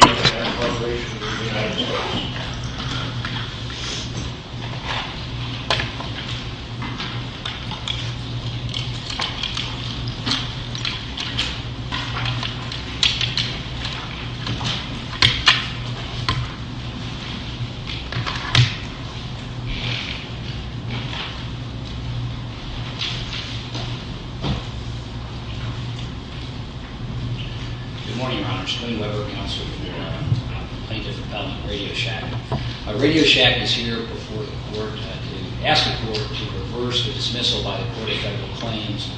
Good morning, Your Honors. My name is Wayne Weber, Counselor for the Plaintiff-Appellant at Radioshack. Radioshack is here before the court to ask the court to reverse the dismissal by the Court of Federal Claims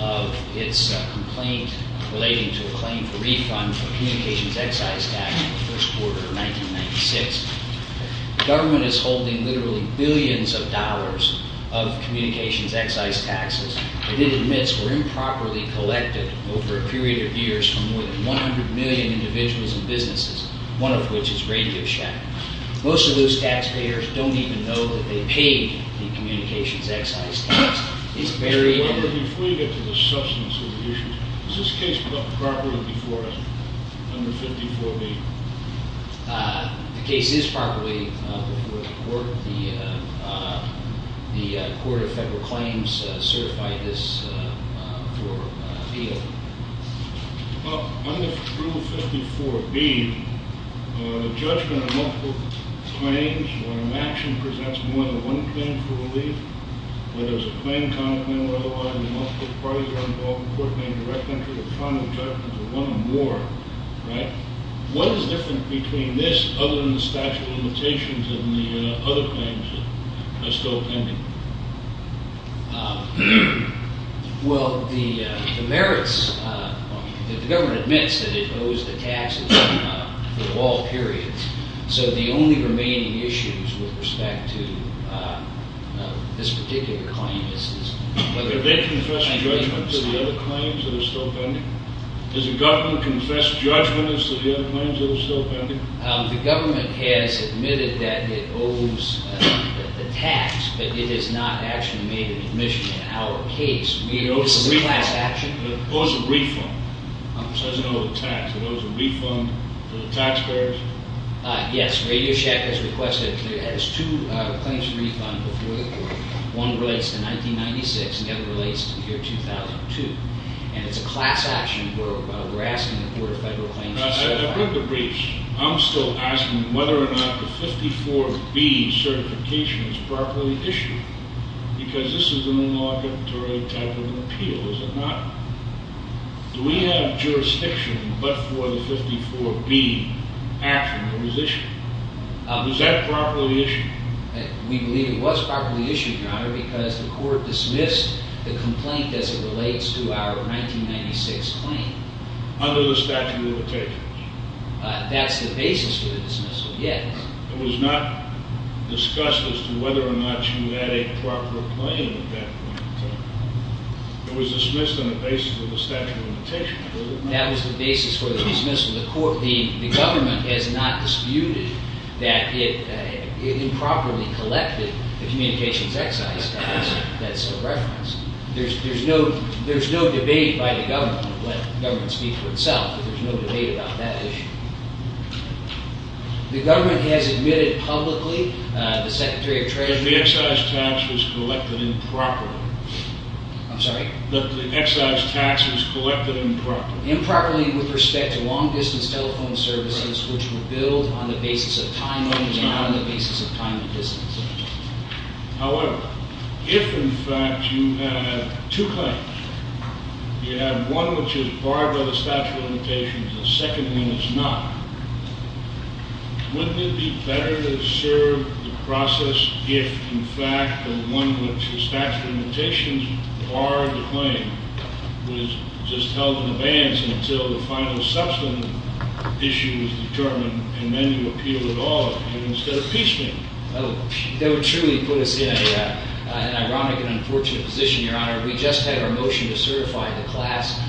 of its complaint relating to a claim for refund for communications excise taxes in the first quarter of 1996. The government is holding literally billions of dollars of communications excise taxes that it admits were improperly collected over a period of years from more than 100 million individuals and businesses, one of which is Radioshack. Most of those taxpayers don't even know that they paid the communications excise tax. Before you get to the substance of the issue, is this case brought properly before us under 54B? The case is properly before the court. The Court of Federal Claims certified this for appeal. Well, under Rule 54B, the judgment of multiple claims or an action presents more than one claim for relief. Whether it's a claim, common claim, or otherwise, the multiple parties are involved, the court may direct entry to the final judgment of one or more. Right? What is different between this other than the statute of limitations and the other claims that are still pending? Well, the merits, the government admits that it owes the taxes for all periods. So the only remaining issues with respect to this particular claim is whether... Did they confess judgment to the other claims that are still pending? Does the government confess judgment as to the other claims that are still pending? The government has admitted that it owes the tax, but it has not actually made an admission in our case. We owe a class action. It owes a refund. It doesn't owe a tax. It owes a refund to the taxpayers? Yes. Radio Shack has requested two claims refund before the court. One relates to 1996 and the other relates to the year 2002. And it's a class action. We're asking the Court of Federal Claims... I've read the briefs. I'm still asking whether or not the 54B certification is properly issued. Because this is an inauguratory type of appeal, is it not? Do we have jurisdiction but for the 54B action that was issued? Is that properly issued? We believe it was properly issued, Your Honor, because the court dismissed the complaint as it relates to our 1996 claim. Under the statute of limitations. That's the basis for the dismissal, yes. It was not discussed as to whether or not you had a proper claim at that point. It was dismissed on the basis of the statute of limitations. That was the basis for the dismissal. The government has not disputed that it improperly collected the communications exercise that's referenced. There's no debate by the government. Let the government speak for itself. There's no debate about that issue. The government has admitted publicly, the Secretary of Treasury... The exercise tax was collected improperly. I'm sorry? The exercise tax was collected improperly. Improperly with respect to long-distance telephone services which were billed on the basis of time limits and not on the basis of time and distance. However, if, in fact, you have two claims, you have one which is barred by the statute of limitations, the second one is not, wouldn't it be better to serve the process if, in fact, the one which the statute of limitations barred the claim was just held in advance until the final subsequent issue was determined and then you appeal it all instead of impeachment? That would truly put us in an ironic and unfortunate position, Your Honor. We just had our motion to certify the class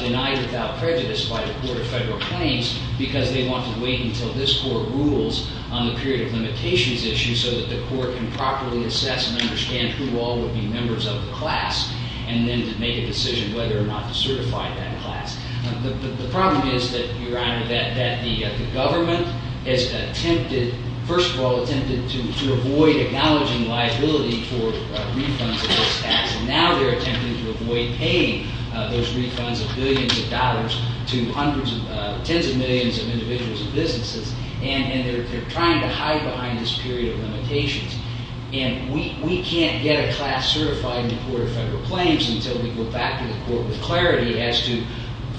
denied without prejudice by the Court of Federal Claims because they want to wait until this Court rules on the period of limitations issue so that the Court can properly assess and understand who all would be members of the class and then to make a decision whether or not to certify that class. The problem is that, Your Honor, that the government has attempted, first of all, attempted to avoid acknowledging liability for refunds of those tax and now they're attempting to avoid paying those refunds of billions of dollars to hundreds of, tens of millions of individuals and businesses and they're trying to hide behind this period of limitations and we can't get a class certified in the Court of Federal Claims until we go back to the Court with clarity as to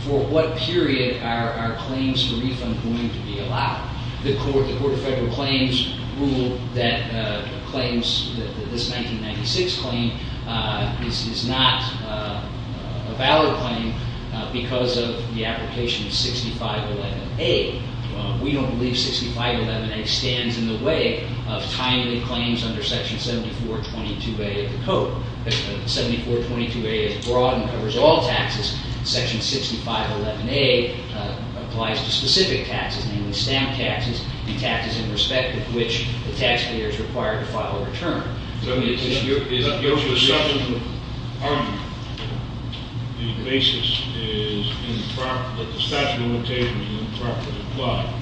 for what period are claims for refund going to be allowed. The Court of Federal Claims ruled that claims, this 1996 claim is not a valid claim because of the application 6511A. We don't believe 6511A stands in the way of timely claims under Section 7422A of the Code. 7422A is broad and covers all taxes. Section 6511A applies to specific taxes, namely stamp taxes, the taxes in respect of which the taxpayer is required to file a return. Your perception of argument, the basis is in the property, that the statute of limitations is in the property of the client.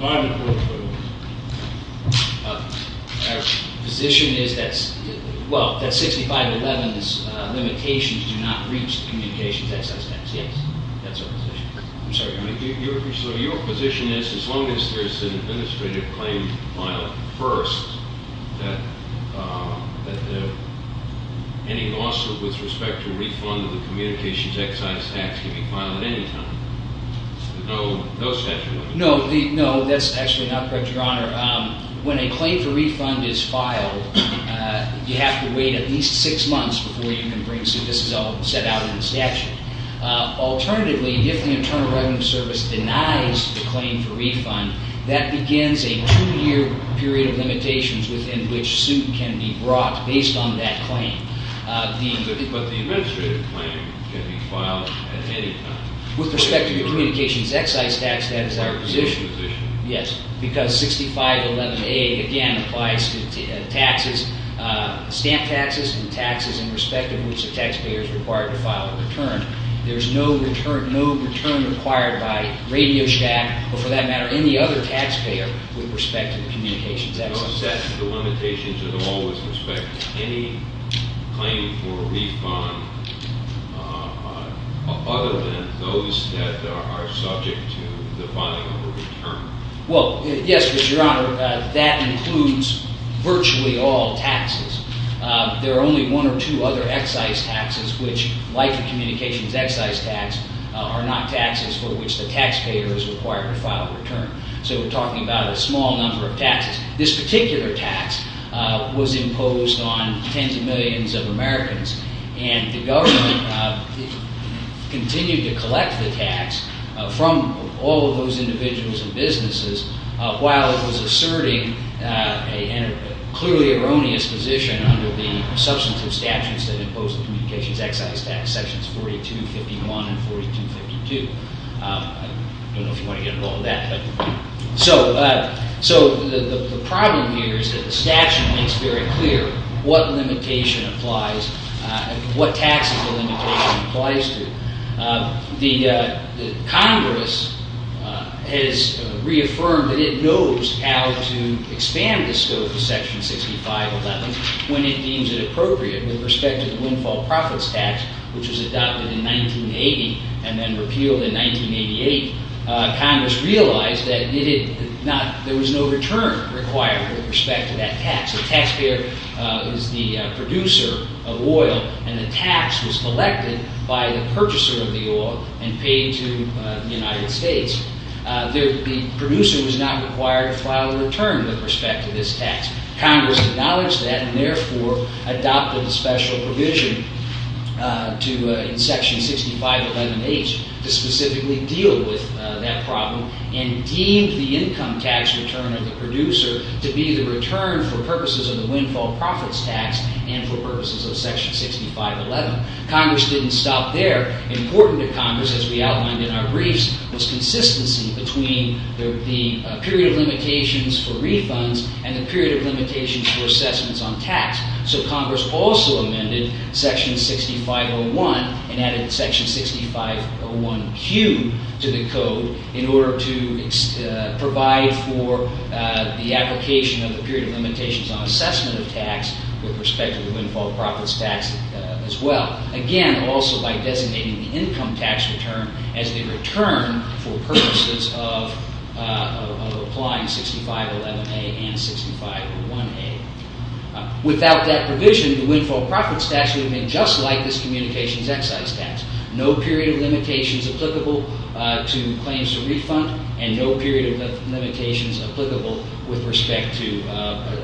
My position is that, well, that 6511's limitations do not reach communications excise tax. Yes, that's our position. I'm sorry. So your position is as long as there's an administrative claim filed first that any loss with respect to refund of the communications excise tax can be filed at any time? No, that's actually not correct, Your Honor. When a claim for refund is filed, you have to wait at least six months before you can bring suit. This is all set out in the statute. Alternatively, if the Internal Revenue Service denies the claim for refund, that begins a two-year period of limitations within which suit can be brought based on that claim. But the administrative claim can be filed at any time? With respect to the communications excise tax, that is our position. Yes, because 6511A, again, applies to taxes, stamp taxes and taxes in respect of which the taxpayer is required to file a return. There's no return required by RadioShack or, for that matter, There are no set limitations at all with respect to any claim for refund other than those that are subject to the filing of a return? Well, yes, Your Honor. That includes virtually all taxes. There are only one or two other excise taxes which, like the communications excise tax, are not taxes for which the taxpayer is required to file a return. So we're talking about a small number of taxes. This particular tax was imposed on tens of millions of Americans and the government continued to collect the tax from all of those individuals and businesses while it was asserting a clearly erroneous position under the substantive statutes that impose the communications excise tax, sections 4251 and 4252. I don't know if you want to get involved with that. So the problem here is that the statute makes very clear what tax the limitation applies to. Congress has reaffirmed that it knows how to expand the scope of section 6511 when it deems it appropriate with respect to the windfall profits tax which was adopted in 1980 and then repealed in 1988. Congress realized that there was no return required with respect to that tax. The taxpayer is the producer of oil and the tax was collected by the purchaser of the oil and paid to the United States. The producer was not required to file a return with respect to this tax. Congress acknowledged that and therefore adopted a special provision in section 6511H to specifically deal with that problem and deemed the income tax return of the producer to be the return for purposes of the windfall profits tax and for purposes of section 6511. Congress didn't stop there. Important to Congress, as we outlined in our briefs, was consistency between the period of limitations for refunds and the period of limitations for assessments on tax. So Congress also amended section 6501 and added section 6501Q to the code in order to provide for the application of the period of limitations on assessment of tax with respect to the windfall profits tax as well. Again, also by designating the income tax return as the return for purposes of applying 6511A and 6501A. Without that provision, the windfall profits tax would have been just like this communications excise tax. No period of limitations applicable to claims to refund and no period of limitations applicable with respect to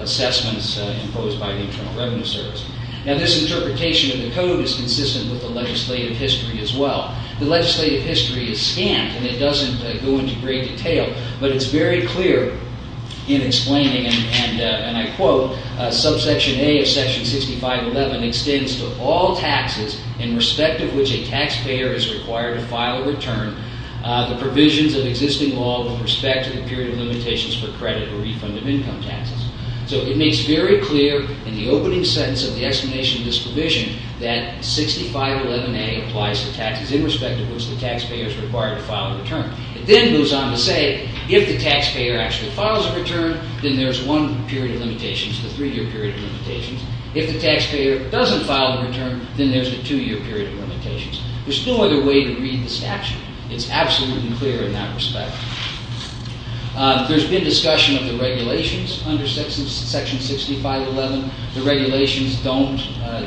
assessments imposed by the Internal Revenue Service. Now this interpretation of the code is consistent with the legislative history as well. The legislative history is scant and it doesn't go into great detail, but it's very clear in explaining, and I quote, subsection A of section 6511 extends to all taxes in respect of which a taxpayer is required to file a return the provisions of existing law with respect to the period of limitations for credit or refund of income taxes. So it makes very clear in the opening sentence of the explanation of this provision that 6511A applies to taxes in respect of which the taxpayer is required to file a return. It then goes on to say if the taxpayer actually files a return then there's one period of limitations, the three-year period of limitations. If the taxpayer doesn't file a return then there's a two-year period of limitations. There's no other way to read the statute. It's absolute and clear in that respect. There's been discussion of the regulations under section 6511. The regulations don't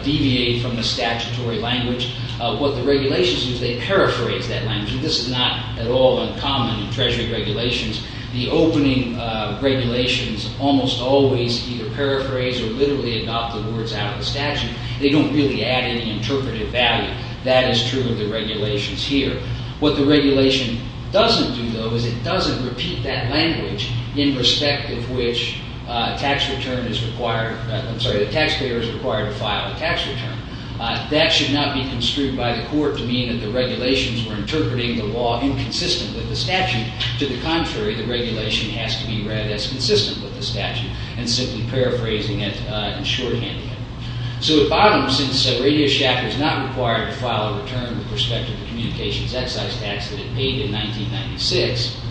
deviate from the statutory language. What the regulations do is they paraphrase that language. This is not at all uncommon in treasury regulations. The opening regulations almost always either paraphrase or literally adopt the words out of the statute. They don't really add any interpretive value. That is true of the regulations here. What the regulation doesn't do, though, is it doesn't repeat that language in respect of which the taxpayer is required to file a tax return. That should not be construed by the court to mean that the regulations were interpreting the law inconsistent with the statute. To the contrary, the regulation has to be read as consistent with the statute and simply paraphrasing it in shorthand. So at bottom, since RadioShack is not required to file a return with respect to the communications excise tax that it paid in 1996,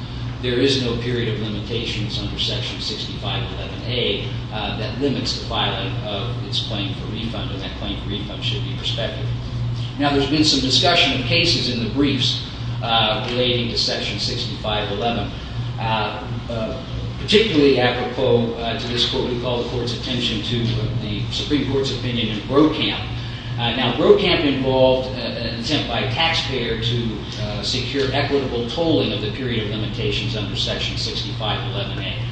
there is no period of limitations under section 6511A that limits the filing of its claim for refund and that claim for refund should be prospective. Now, there's been some discussion of cases in the briefs relating to section 6511. Particularly apropos to this court, we call the court's attention to the Supreme Court's opinion in Brokamp. Now, Brokamp involved an attempt by a taxpayer to secure equitable tolling of the period of limitations under section 6511A.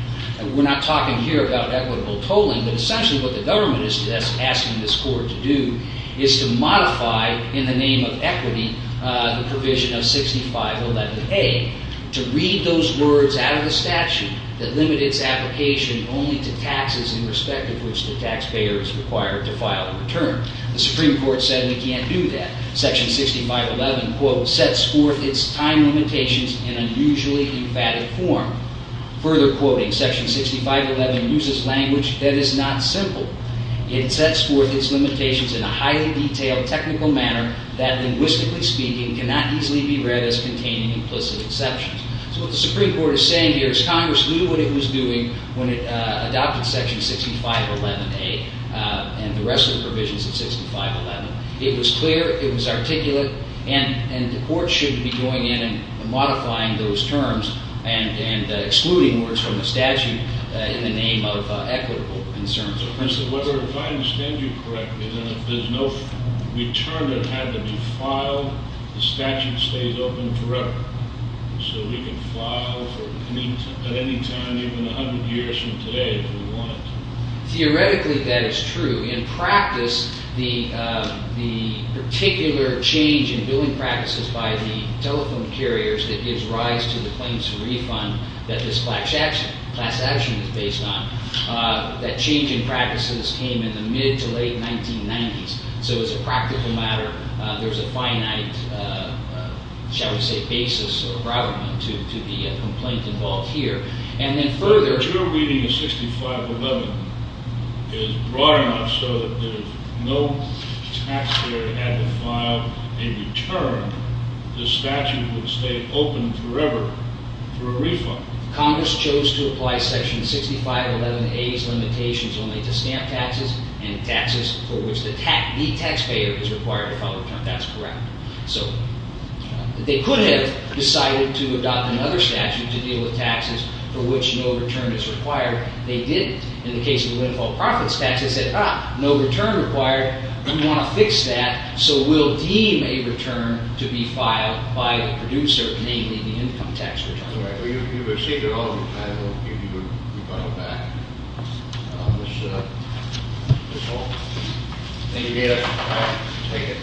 We're not talking here about equitable tolling, but essentially what the government is asking this court to do is to modify, in the name of equity, the provision of 6511A to read those words out of the statute that limit its application only to taxes in respect of which the taxpayer is required to file a return. The Supreme Court said we can't do that. Section 6511, quote, sets forth its time limitations in unusually emphatic form. Further quoting, section 6511 uses language that is not simple. It sets forth its limitations in a highly detailed technical manner that linguistically speaking cannot easily be read as containing implicit exceptions. So what the Supreme Court is saying here is Congress knew what it was doing when it adopted section 6511A and the rest of the provisions of 6511. It was clear, it was articulate, and the court shouldn't be going in and modifying those terms and excluding words from the statute in the name of equitable concerns. Mr. Weber, if I understand you correctly, then if there's no return that had to be filed, the statute stays open forever. So we can file at any time, even 100 years from today if we want it to. Theoretically, that is true. In practice, the particular change in billing practices by the telephone carriers that gives rise to the claims to refund that this class action is based on, that change in practices came in the mid- to late-1990s. So it's a practical matter. There's a finite, shall we say, basis, or rather, to the complaint involved here. And then further... Your reading of 6511 is broad enough so that if no taxpayer had to file a return, the statute would stay open forever for a refund. Congress chose to apply Section 6511A's limitations only to stamp taxes and taxes for which the taxpayer is required to file a return. That's correct. So they could have decided to adopt another statute to deal with taxes for which no return is required. They didn't. In the case of the windfall profits tax, they said, ah, no return required. We want to fix that. So we'll deem a return to be filed by the producer, namely the income tax return. That's right. Well, you've received it all the time. We'll give you the refund back. That's all. Thank you, Dana. All right. Take it.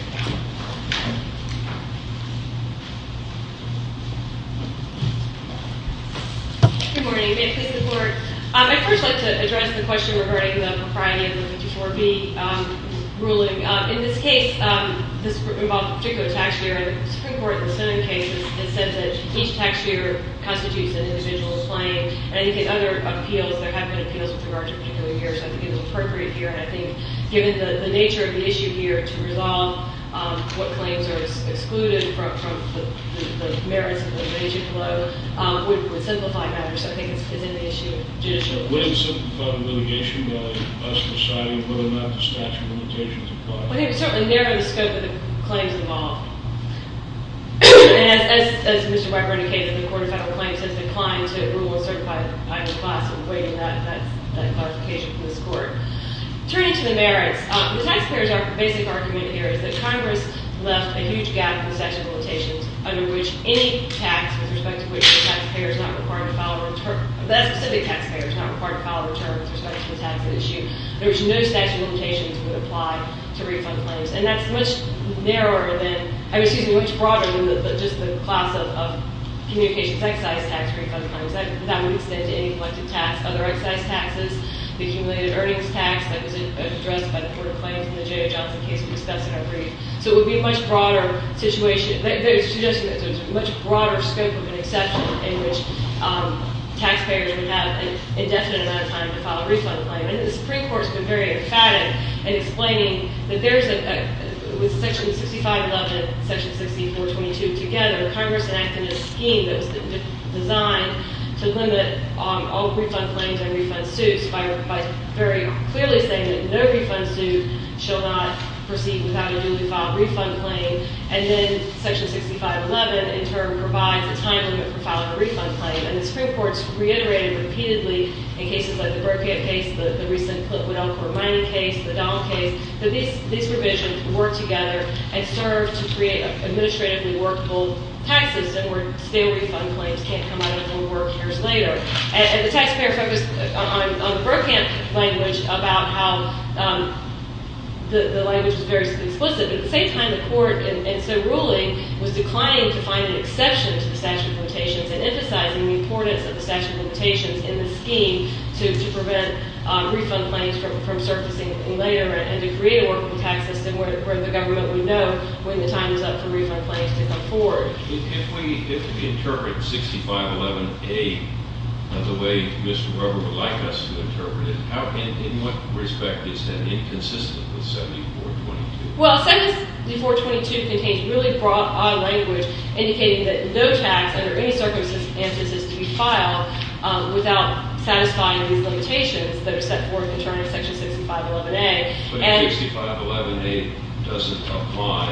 Good morning. May it please the Court? I'd first like to address the question regarding the propriety of the 24B ruling. In this case, this involved a particular taxpayer, and the Supreme Court, in the Senate case, has said that each taxpayer constitutes an individual's claim. And in any case, other appeals, there have been appeals with regard to particular years. I think it's appropriate here. And I think, given the nature of the issue here to resolve what claims are excluded from the merits of the major flow, would simplify matters. I think it's in the issue of judicial. Would it simplify the litigation by a society whether or not the statute of limitations applies? I think it would certainly narrow the scope of the claims involved. As Mr. Weber indicated, the Court of Federal Claims has declined to rule and certify either class in waiving that clarification from this Court. Turning to the merits, the taxpayers' basic argument here is that Congress left a huge gap in the statute of limitations under which any tax with respect to which the taxpayer is not required to file a return, that specific taxpayer is not required to file a return with respect to the tax at issue. There was no statute of limitations that would apply to refund claims. And that's much narrower than, excuse me, much broader than just the class of communications excise tax refund claims. That would extend to any collected tax, other excise taxes, the accumulated earnings tax that was addressed by the Court of Claims in the J.O. Johnson case we discussed in our brief. So it would be a much broader situation. They're suggesting that there's a much broader scope of an exception in which taxpayers would have an indefinite amount of time to file a refund claim. And the Supreme Court's been very emphatic in explaining that there's a, with section 6511, section 6422 together, Congress enacted a scheme that was designed to limit all refund claims and refund suits by very clearly saying that no refund suit shall not proceed without a duly filed refund claim. And then section 6511, in turn, provides a time limit for filing a refund claim. And the Supreme Court's reiterated repeatedly in cases like the Burkett case, the recent Clitwood Elkhorn mining case, the Dahl case, that these revisions work together and serve to create an administratively workable tax system where stale refund claims can't come out of their work years later. And the taxpayer focused on the Burkamp language about how the language was very explicit. But at the same time, the Court, in its ruling, was declining to find an exception to the statute of limitations and emphasizing the importance of the statute of limitations in the scheme to prevent refund claims from surfacing later and to create a workable tax system where the government would know when the time is up for refund claims to come forward. If we interpret 6511A the way Mr. Weber would like us to interpret it, in what respect is that inconsistent with 7422? Well, 7422 contains really broad language indicating that no tax under any circumstances is to be filed without satisfying these limitations that are set forth in terms of section 6511A. But if 6511A doesn't apply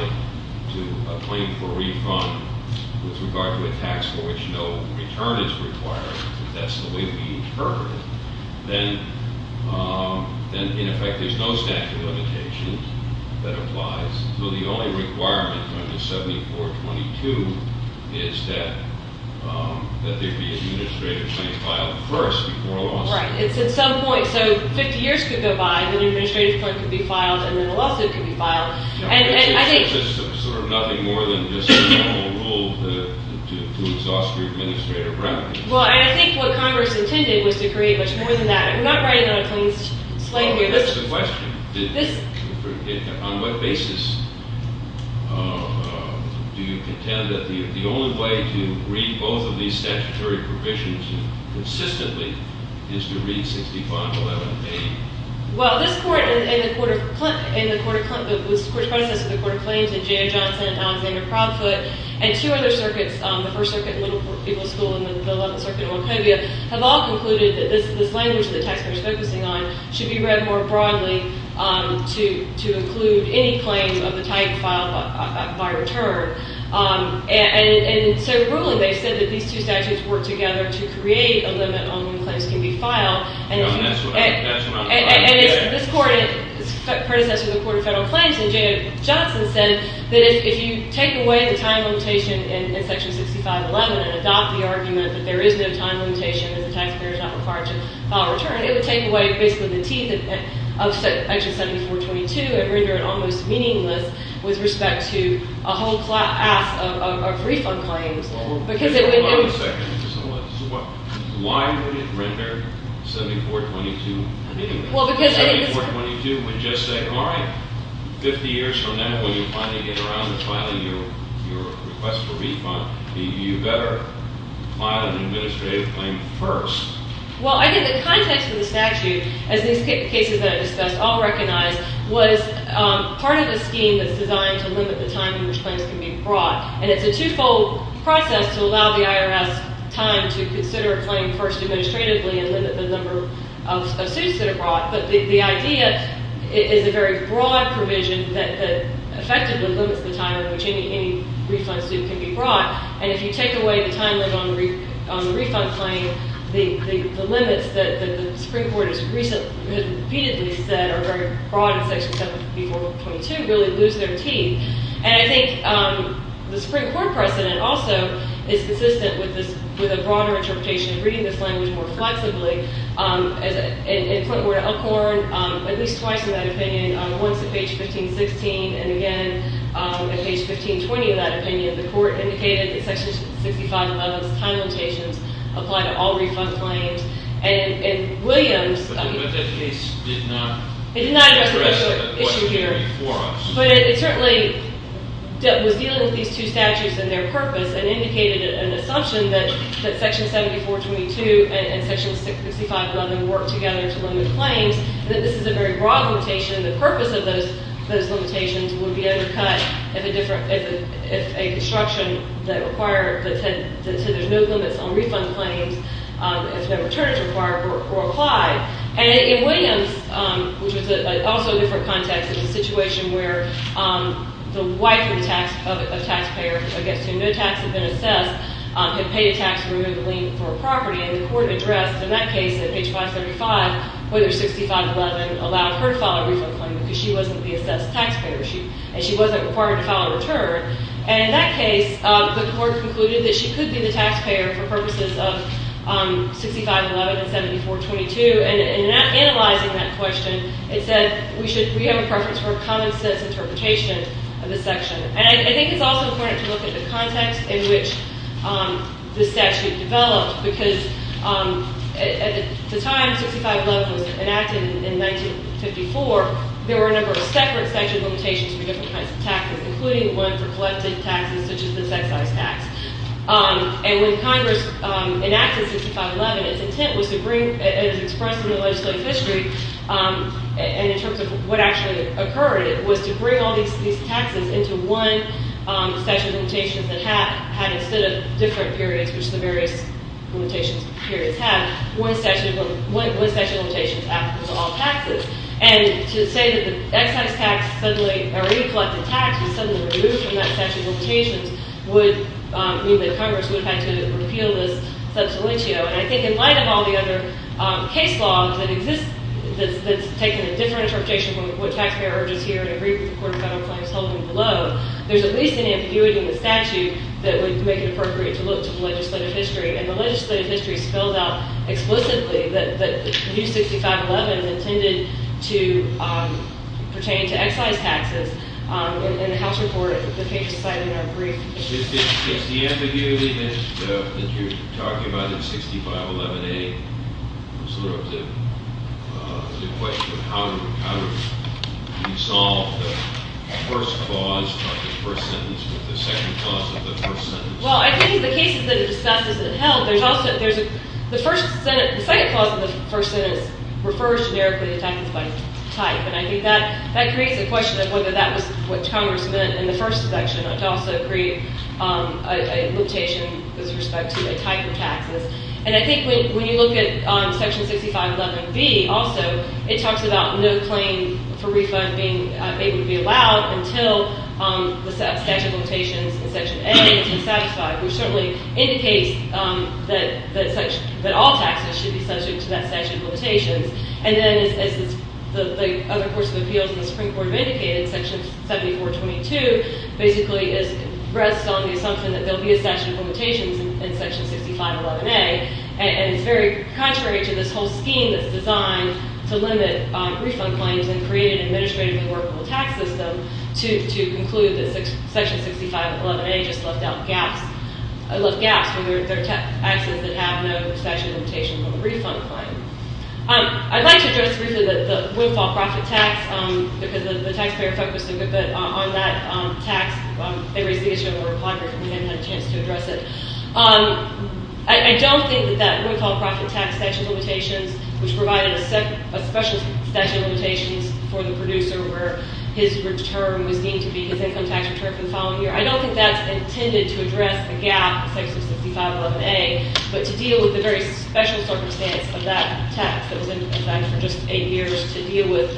to a claim for refund with regard to a tax for which no return is required, if that's the way we interpret it, then, in effect, there's no statute of limitations that applies. So the only requirement under 7422 is that there be an administrative claim filed first before a lawsuit. Right. It's at some point. So 50 years could go by, and then an administrative claim could be filed, and then a lawsuit could be filed. And I think It's sort of nothing more than just a normal rule to exhaust your administrative remedy. Well, and I think what Congress intended was to create much more than that. I'm not writing on a clean slate here. I guess the question, on what basis do you contend that the only way to read both of these statutory provisions consistently is to read 6511A? Well, this Court and the Court of Claims and J.M. Johnson and Alexander Crawford and two other circuits, the First Circuit and Little People's School and the 11th Circuit in Wachovia, have all concluded that this language that the taxpayer is focusing on should be read more broadly to include any claim of the type filed by return. And so, really, they've said that these two statutes work together to create a limit on when claims can be filed. And that's what I'm trying to get at. And this Court, and it's predecessor to the Court of Federal Claims and J.M. Johnson said that if you take away the time limitation in Section 6511 and adopt the argument that there is no time limitation and the taxpayer is not required to file a return, it would take away, basically, the teeth of Section 7422 and render it almost meaningless with respect to a whole class of refund claims. Well, there's a lot of sections. So why would it render 7422 meaningless? Well, because it is. 7422 would just say, all right, 50 years from now, when you finally get around to filing your request for refund, you better file an administrative claim first. Well, I think the context of the statute, as these cases that I've discussed all recognize, was part of a scheme that's designed to limit the time in which claims can be brought. And it's a two-fold process to allow the IRS time to consider a claim first administratively and limit the number of suits that are brought. But the idea is a very broad provision that effectively limits the time in which any refund suit can be brought. And if you take away the time limit on the refund claim, the limits that the Supreme Court has repeatedly said are very broad in Section 7422 really lose their teeth. And I think the Supreme Court precedent also is consistent with a broader interpretation of reading this language more flexibly. In point of order Elkhorn, at least twice in that opinion, once at page 1516, and again at page 1520 in that opinion, the court indicated that Section 6511's time limitations apply to all refund claims. And Williams. But that case did not address that question before us. It did not address the issue here. But it certainly was dealing with these two statutes and their purpose and indicated an assumption that Section 7422 and Section 6511 work together to limit claims, that this is a very broad limitation. The purpose of those limitations would be undercut if a construction that said there's no limits on refund claims if the return is required were applied. And in Williams, which was also a different context, a situation where the wife of a taxpayer against whom no tax had been assessed had paid a tax to remove the lien for a property. And the court addressed in that case at page 535 whether 6511 allowed her to file a refund claim because she wasn't the assessed taxpayer. And she wasn't required to file a return. And in that case, the court concluded that she could be the taxpayer for purposes of 6511 and 7422. And in analyzing that question, it said we have a preference for a common sense interpretation of the section. And I think it's also important to look at the context in which the statute developed. Because at the time 6511 was enacted in 1954, there were a number of separate section limitations for different kinds of taxes, including one for collective taxes, such as this excise tax. And when Congress enacted 6511, its intent was to bring, as expressed in the legislative history and in terms of what actually occurred, it was to bring all these taxes into one statute of limitations that had, instead of different periods, which the various limitations periods had, one statute of limitations applicable to all taxes. And to say that the excise tax suddenly, or any collective tax was suddenly removed from that statute of limitations would mean that Congress would have to repeal this substantio. And I think in light of all the other case laws that exist, that's taken a different interpretation from what taxpayer urges here and agree with the Court of Federal Claims holding below, there's at least an ambiguity in the statute that would make it appropriate to look to the legislative history. And the legislative history spells out explicitly that the new 6511 is intended to pertain to excise taxes. In the House report, the case is cited in our brief. Is the ambiguity that you're talking about in 6511A sort of the question of how to resolve the first clause of the first sentence with the second clause of the first sentence? Well, I think the cases that it discusses and held, the second clause of the first sentence refers generically to taxes by type. And I think that creates a question of whether that was what Congress meant in the first section to also create a limitation with respect to a type of taxes. And I think when you look at Section 6511B also, it talks about no claim for refund being able to be allowed until the statute of limitations in Section A is satisfied, which certainly indicates that all taxes should be subject to that statute of limitations. And then as the other course of appeals in the Supreme Court have indicated, Section 7422 basically rests on the assumption that there will be a statute of limitations in Section 6511A. And it's very contrary to this whole scheme that's designed to limit refund claims and create an administrative and workable tax system to conclude that Section 6511A just left out gaps. It left gaps, where there are taxes that have no statute of limitations on the refund claim. I'd like to address briefly the windfall profit tax, because the taxpayer focused a good bit on that tax. They raised the issue of the Republican. We haven't had a chance to address it. I don't think that that windfall profit tax statute of limitations, which provided a special statute of limitations for the producer where his income tax return for the following year, I don't think that's intended to address the gap in Section 6511A, but to deal with the very special circumstance of that tax. It was in effect for just eight years to deal with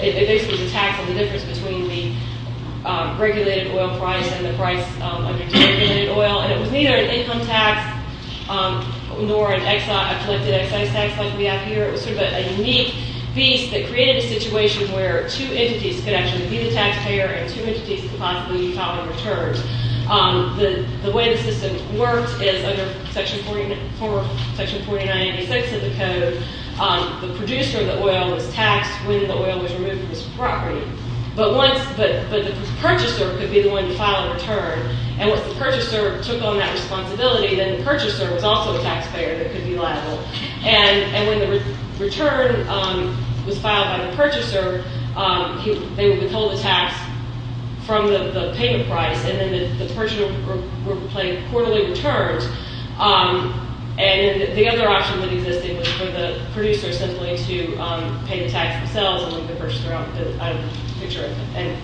basically the tax on the difference between the regulated oil price and the price under deregulated oil. And it was neither an income tax nor a collected excise tax like we have here. It was a unique beast that created a situation where two entities could actually be the taxpayer and two entities could possibly file a return. The way the system works is under Section 4986 of the code, the producer of the oil was taxed when the oil was removed from his property. But the purchaser could be the one to file a return. And once the purchaser took on that responsibility, then the purchaser was also the taxpayer that could be liable. And when the return was filed by the purchaser, they would withhold the tax from the payment price. And then the purchaser would pay quarterly returns. And the other option that existed was for the producer simply to pay the tax themselves and leave the purchaser out of the picture and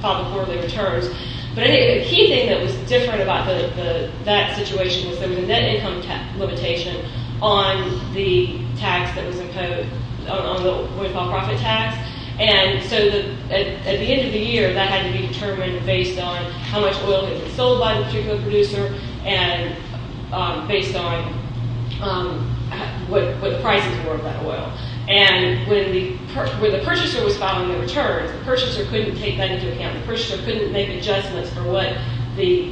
file the quarterly returns. But I think the key thing that was different about that situation was there was a net income limitation on the tax that was imposed, on the withhold profit tax. And so at the end of the year, that had to be determined based on how much oil had been sold by the particular producer and based on what the prices were of that oil. And when the purchaser was filing the returns, the purchaser couldn't take that into account. The purchaser couldn't make adjustments for what the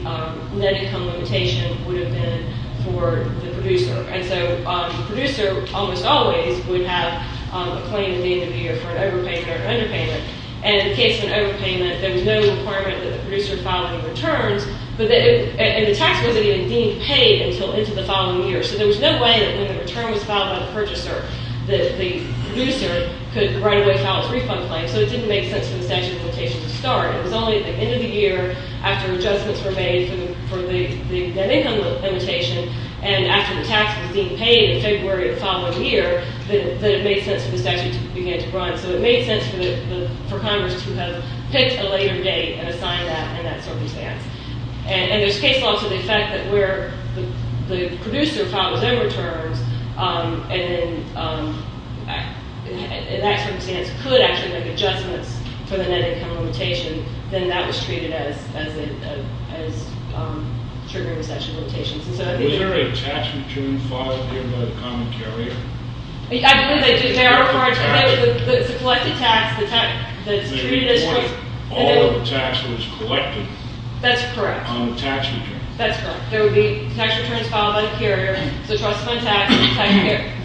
net income limitation would have been for the producer. And so the producer almost always would have a claim at the end of the year for an overpayment or an underpayment. And in the case of an overpayment, there was no requirement that the producer file any returns. And the tax wasn't even deemed paid until into the following year. So there was no way that when the return was filed by the purchaser that the producer could right away file its refund claim. So it didn't make sense for the statute of limitations to start. It was only at the end of the year, after adjustments were made for the net income limitation, and after the tax was deemed paid in February the following year, that it made sense for the statute to begin to run. So it made sense for Congress to have picked a later date and assigned that in that circumstance. And there's case law to the effect that where the producer filed them returns, and in that circumstance could actually make adjustments for the net income limitation, then that was treated as triggering the statute of limitations. Was there a tax return filed here by the common carrier? I believe they did. There are. It's a collected tax that's treated as just. All of the tax was collected. That's correct. On the tax return. That's correct. There would be tax returns filed by the carrier. So trust fund tax.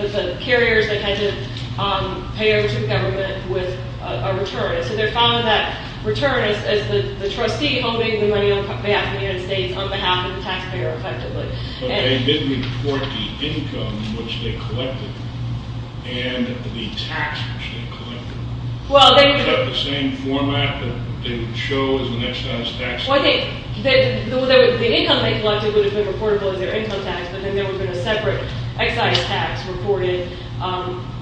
The carriers, they had to pay over to the government with a return. So they're filing that return as the trustee holding the money on behalf of the United States on behalf of the taxpayer, effectively. But they didn't report the income, which they collected, and the tax, which they collected. Was that the same format that they would show as an excise tax? The income they collected would have been reportable as their income tax, but then there would have been a separate excise tax reported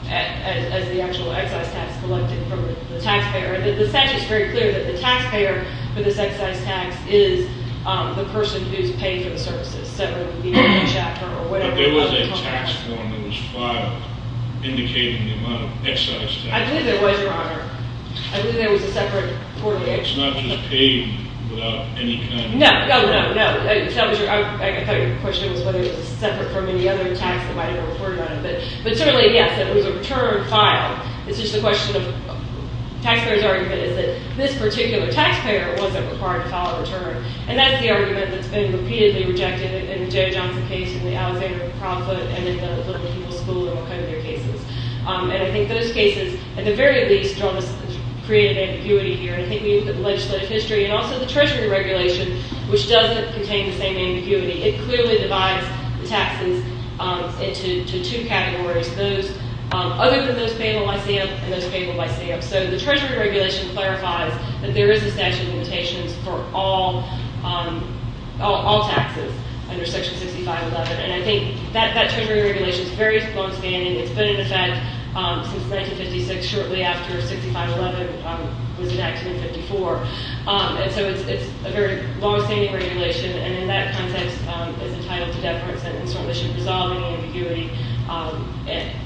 as the actual excise tax collected from the taxpayer. The statute's very clear that the taxpayer for this excise tax is the person who's paying for the services, separately being a paycheck or whatever. But there was a tax form that was filed indicating the amount of excise tax. I believe there was, Your Honor. I believe there was a separate quarterly excise tax. It's not just paid without any kind of tax. No, no, no, no. I thought your question was whether it was separate from any other tax that might have been reported as an excise tax, Your Honor. But certainly, yes, it was a return file. It's just a question of taxpayer's argument is that this particular taxpayer wasn't required to file a return. And that's the argument that's been repeatedly rejected in the Joe Johnson case, in the Alexander Profitt, and in the Filthy People's School, and all kind of their cases. And I think those cases, at the very least, draw this creative ambiguity here. I think when you look at the legislative history and also the Treasury regulation, which doesn't contain the same ambiguity, it clearly divides the taxes into two categories, other than those payable by SAM and those payable by SAM. So the Treasury regulation clarifies that there is a statute of limitations for all taxes under Section 6511. And I think that Treasury regulation's very longstanding. It's been in effect since 1956, shortly after 6511 was enacted in 54. And so it's a very longstanding regulation. And in that context, it's entitled to deference and certainly should resolve any ambiguity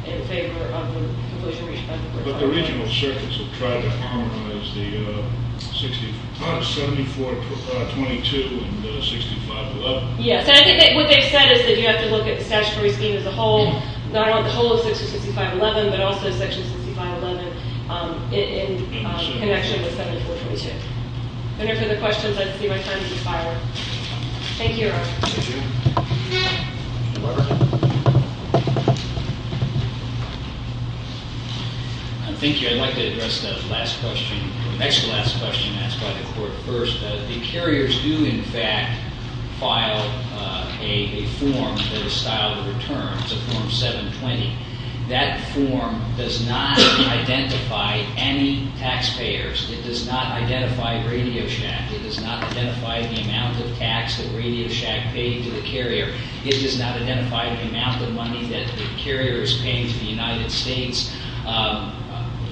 in favor of the completion of the requirement. But the regional circuits have tried to harmonize the 7422 and 6511. Yes. And I think what they've said is that you have to look at the statutory scheme as a whole, not only the whole of Section 6511, but also Section 6511 in connection with 7422. If there are no further questions, I'd like to see my time expired. Thank you, Your Honor. Thank you. Thank you. I'd like to address the next to last question asked by the court first. The carriers do, in fact, file a form for the style of return. It's a Form 720. That form does not identify any taxpayers. It does not identify RadioShack. It does not identify the amount of tax that RadioShack paid to the carrier. It does not identify the amount of money that the carrier is paying to the United States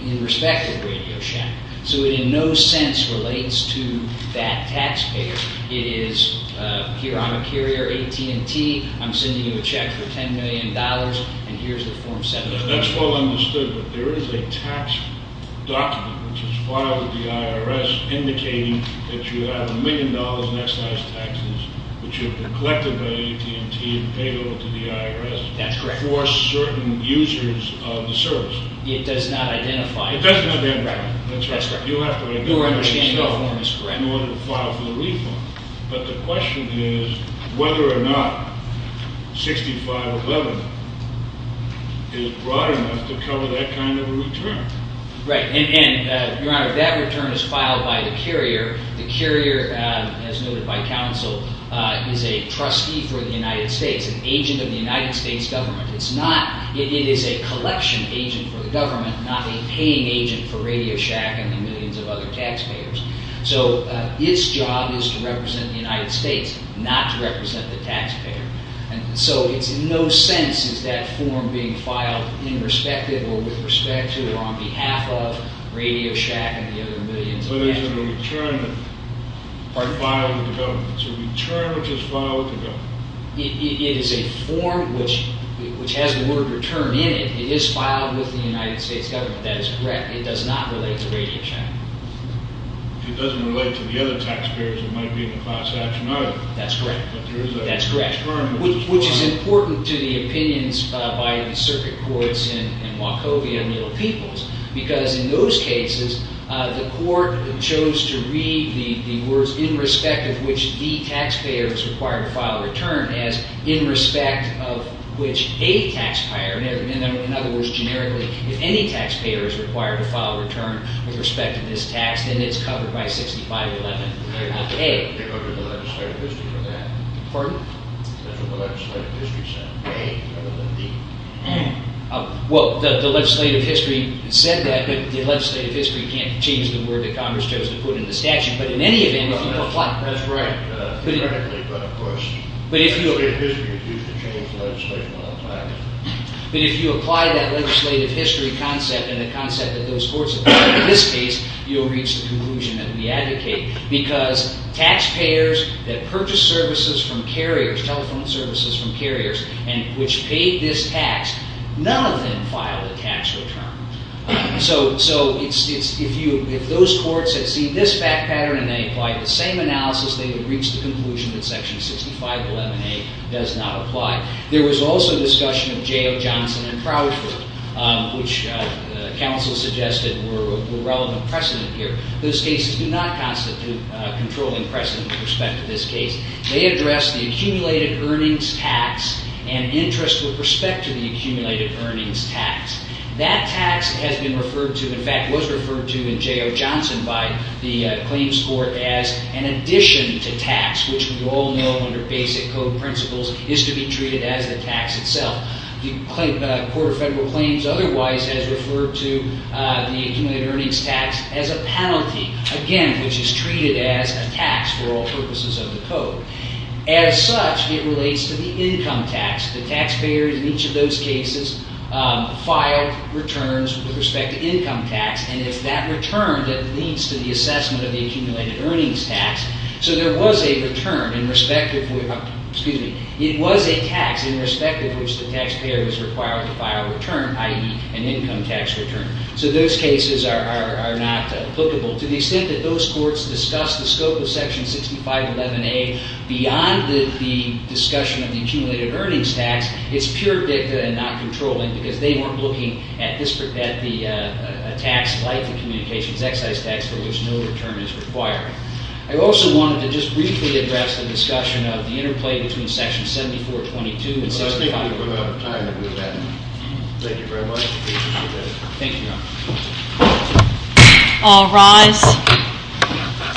in respect of RadioShack. So it in no sense relates to that taxpayer. It is, here, I'm a carrier, AT&T. I'm sending you a check for $10 million. And here's the Form 720. That's well understood. But there is a tax document which is filed with the IRS indicating that you have $1 million in excise taxes which have been collected by AT&T and paid over to the IRS for certain users of the service. It does not identify. It doesn't identify. That's right. You have to identify yourself in order to file for the reform. But the question is whether or not 6511 is broad enough to cover that kind of a return. Right. And, Your Honor, that return is filed by the carrier. The carrier, as noted by counsel, is a trustee for the United States, an agent of the United States government. It's not. It is a collection agent for the government, not a paying agent for RadioShack and the millions of other taxpayers. So its job is to represent the United States, not to represent the taxpayer. And so it's in no sense is that form being filed in respect of or with respect to or on behalf of RadioShack and the other millions of taxpayers. But it's a return filed with the government. It's a return which is filed with the government. It is a form which has the word return in it. It is filed with the United States government. That is correct. It does not relate to RadioShack. It doesn't relate to the other taxpayers who might be in the class action either. That's correct. That's correct. Which is important to the opinions by the circuit court in Wachovia and the other peoples. Because in those cases, the court chose to read the words in respect of which the taxpayer is required to file a return as in respect of which a taxpayer. In other words, generically, if any taxpayer is required to file a return with respect to this tax, then it's covered by 6511A. They covered the legislative district for that. Pardon? That's what the legislative district said. A rather than D. Well, the legislative district said that. But the legislative district can't change the word that Congress chose to put in the statute. But in any event, if you apply it. That's right. But of course, the legislative district is used to change legislation all the time. But if you apply that legislative district concept and the concept that those courts have used in this case, you'll reach the conclusion that we advocate. Because taxpayers that purchase services from carriers, telephone services from carriers, which paid this tax, none of them file a tax return. So if those courts had seen this fact pattern and they applied the same analysis, they would reach the conclusion that section 6511A does not apply. There was also discussion of J.O. Johnson and Crowderford, which counsel suggested were relevant precedent here. Those cases do not constitute controlling precedent with respect to this case. They address the accumulated earnings tax and interest with respect to the accumulated earnings tax. That tax has been referred to, in fact, was referred to in J.O. Johnson by the claims court as an addition to tax, which we all know under basic code principles is to be treated as the tax itself. The Court of Federal Claims otherwise has referred to the accumulated earnings tax as a penalty, again, which is treated as a tax for all purposes of the code. As such, it relates to the income tax. The taxpayer in each of those cases filed returns with respect to income tax. And it's that return that leads to the assessment of the accumulated earnings tax. So there was a tax in respect of which the taxpayer was required to file a return, i.e. an income tax return. So those cases are not applicable to the extent that those courts discuss the scope of section 6511A beyond the discussion of the accumulated earnings tax. It's pure dicta and not controlling because they weren't looking at a tax like the communications excise tax for which no return is required. I also wanted to just briefly address the discussion of the interplay between section 7422 and 6511A. Well, I think we've run out of time. Thank you very much. Thank you, Your Honor. All rise.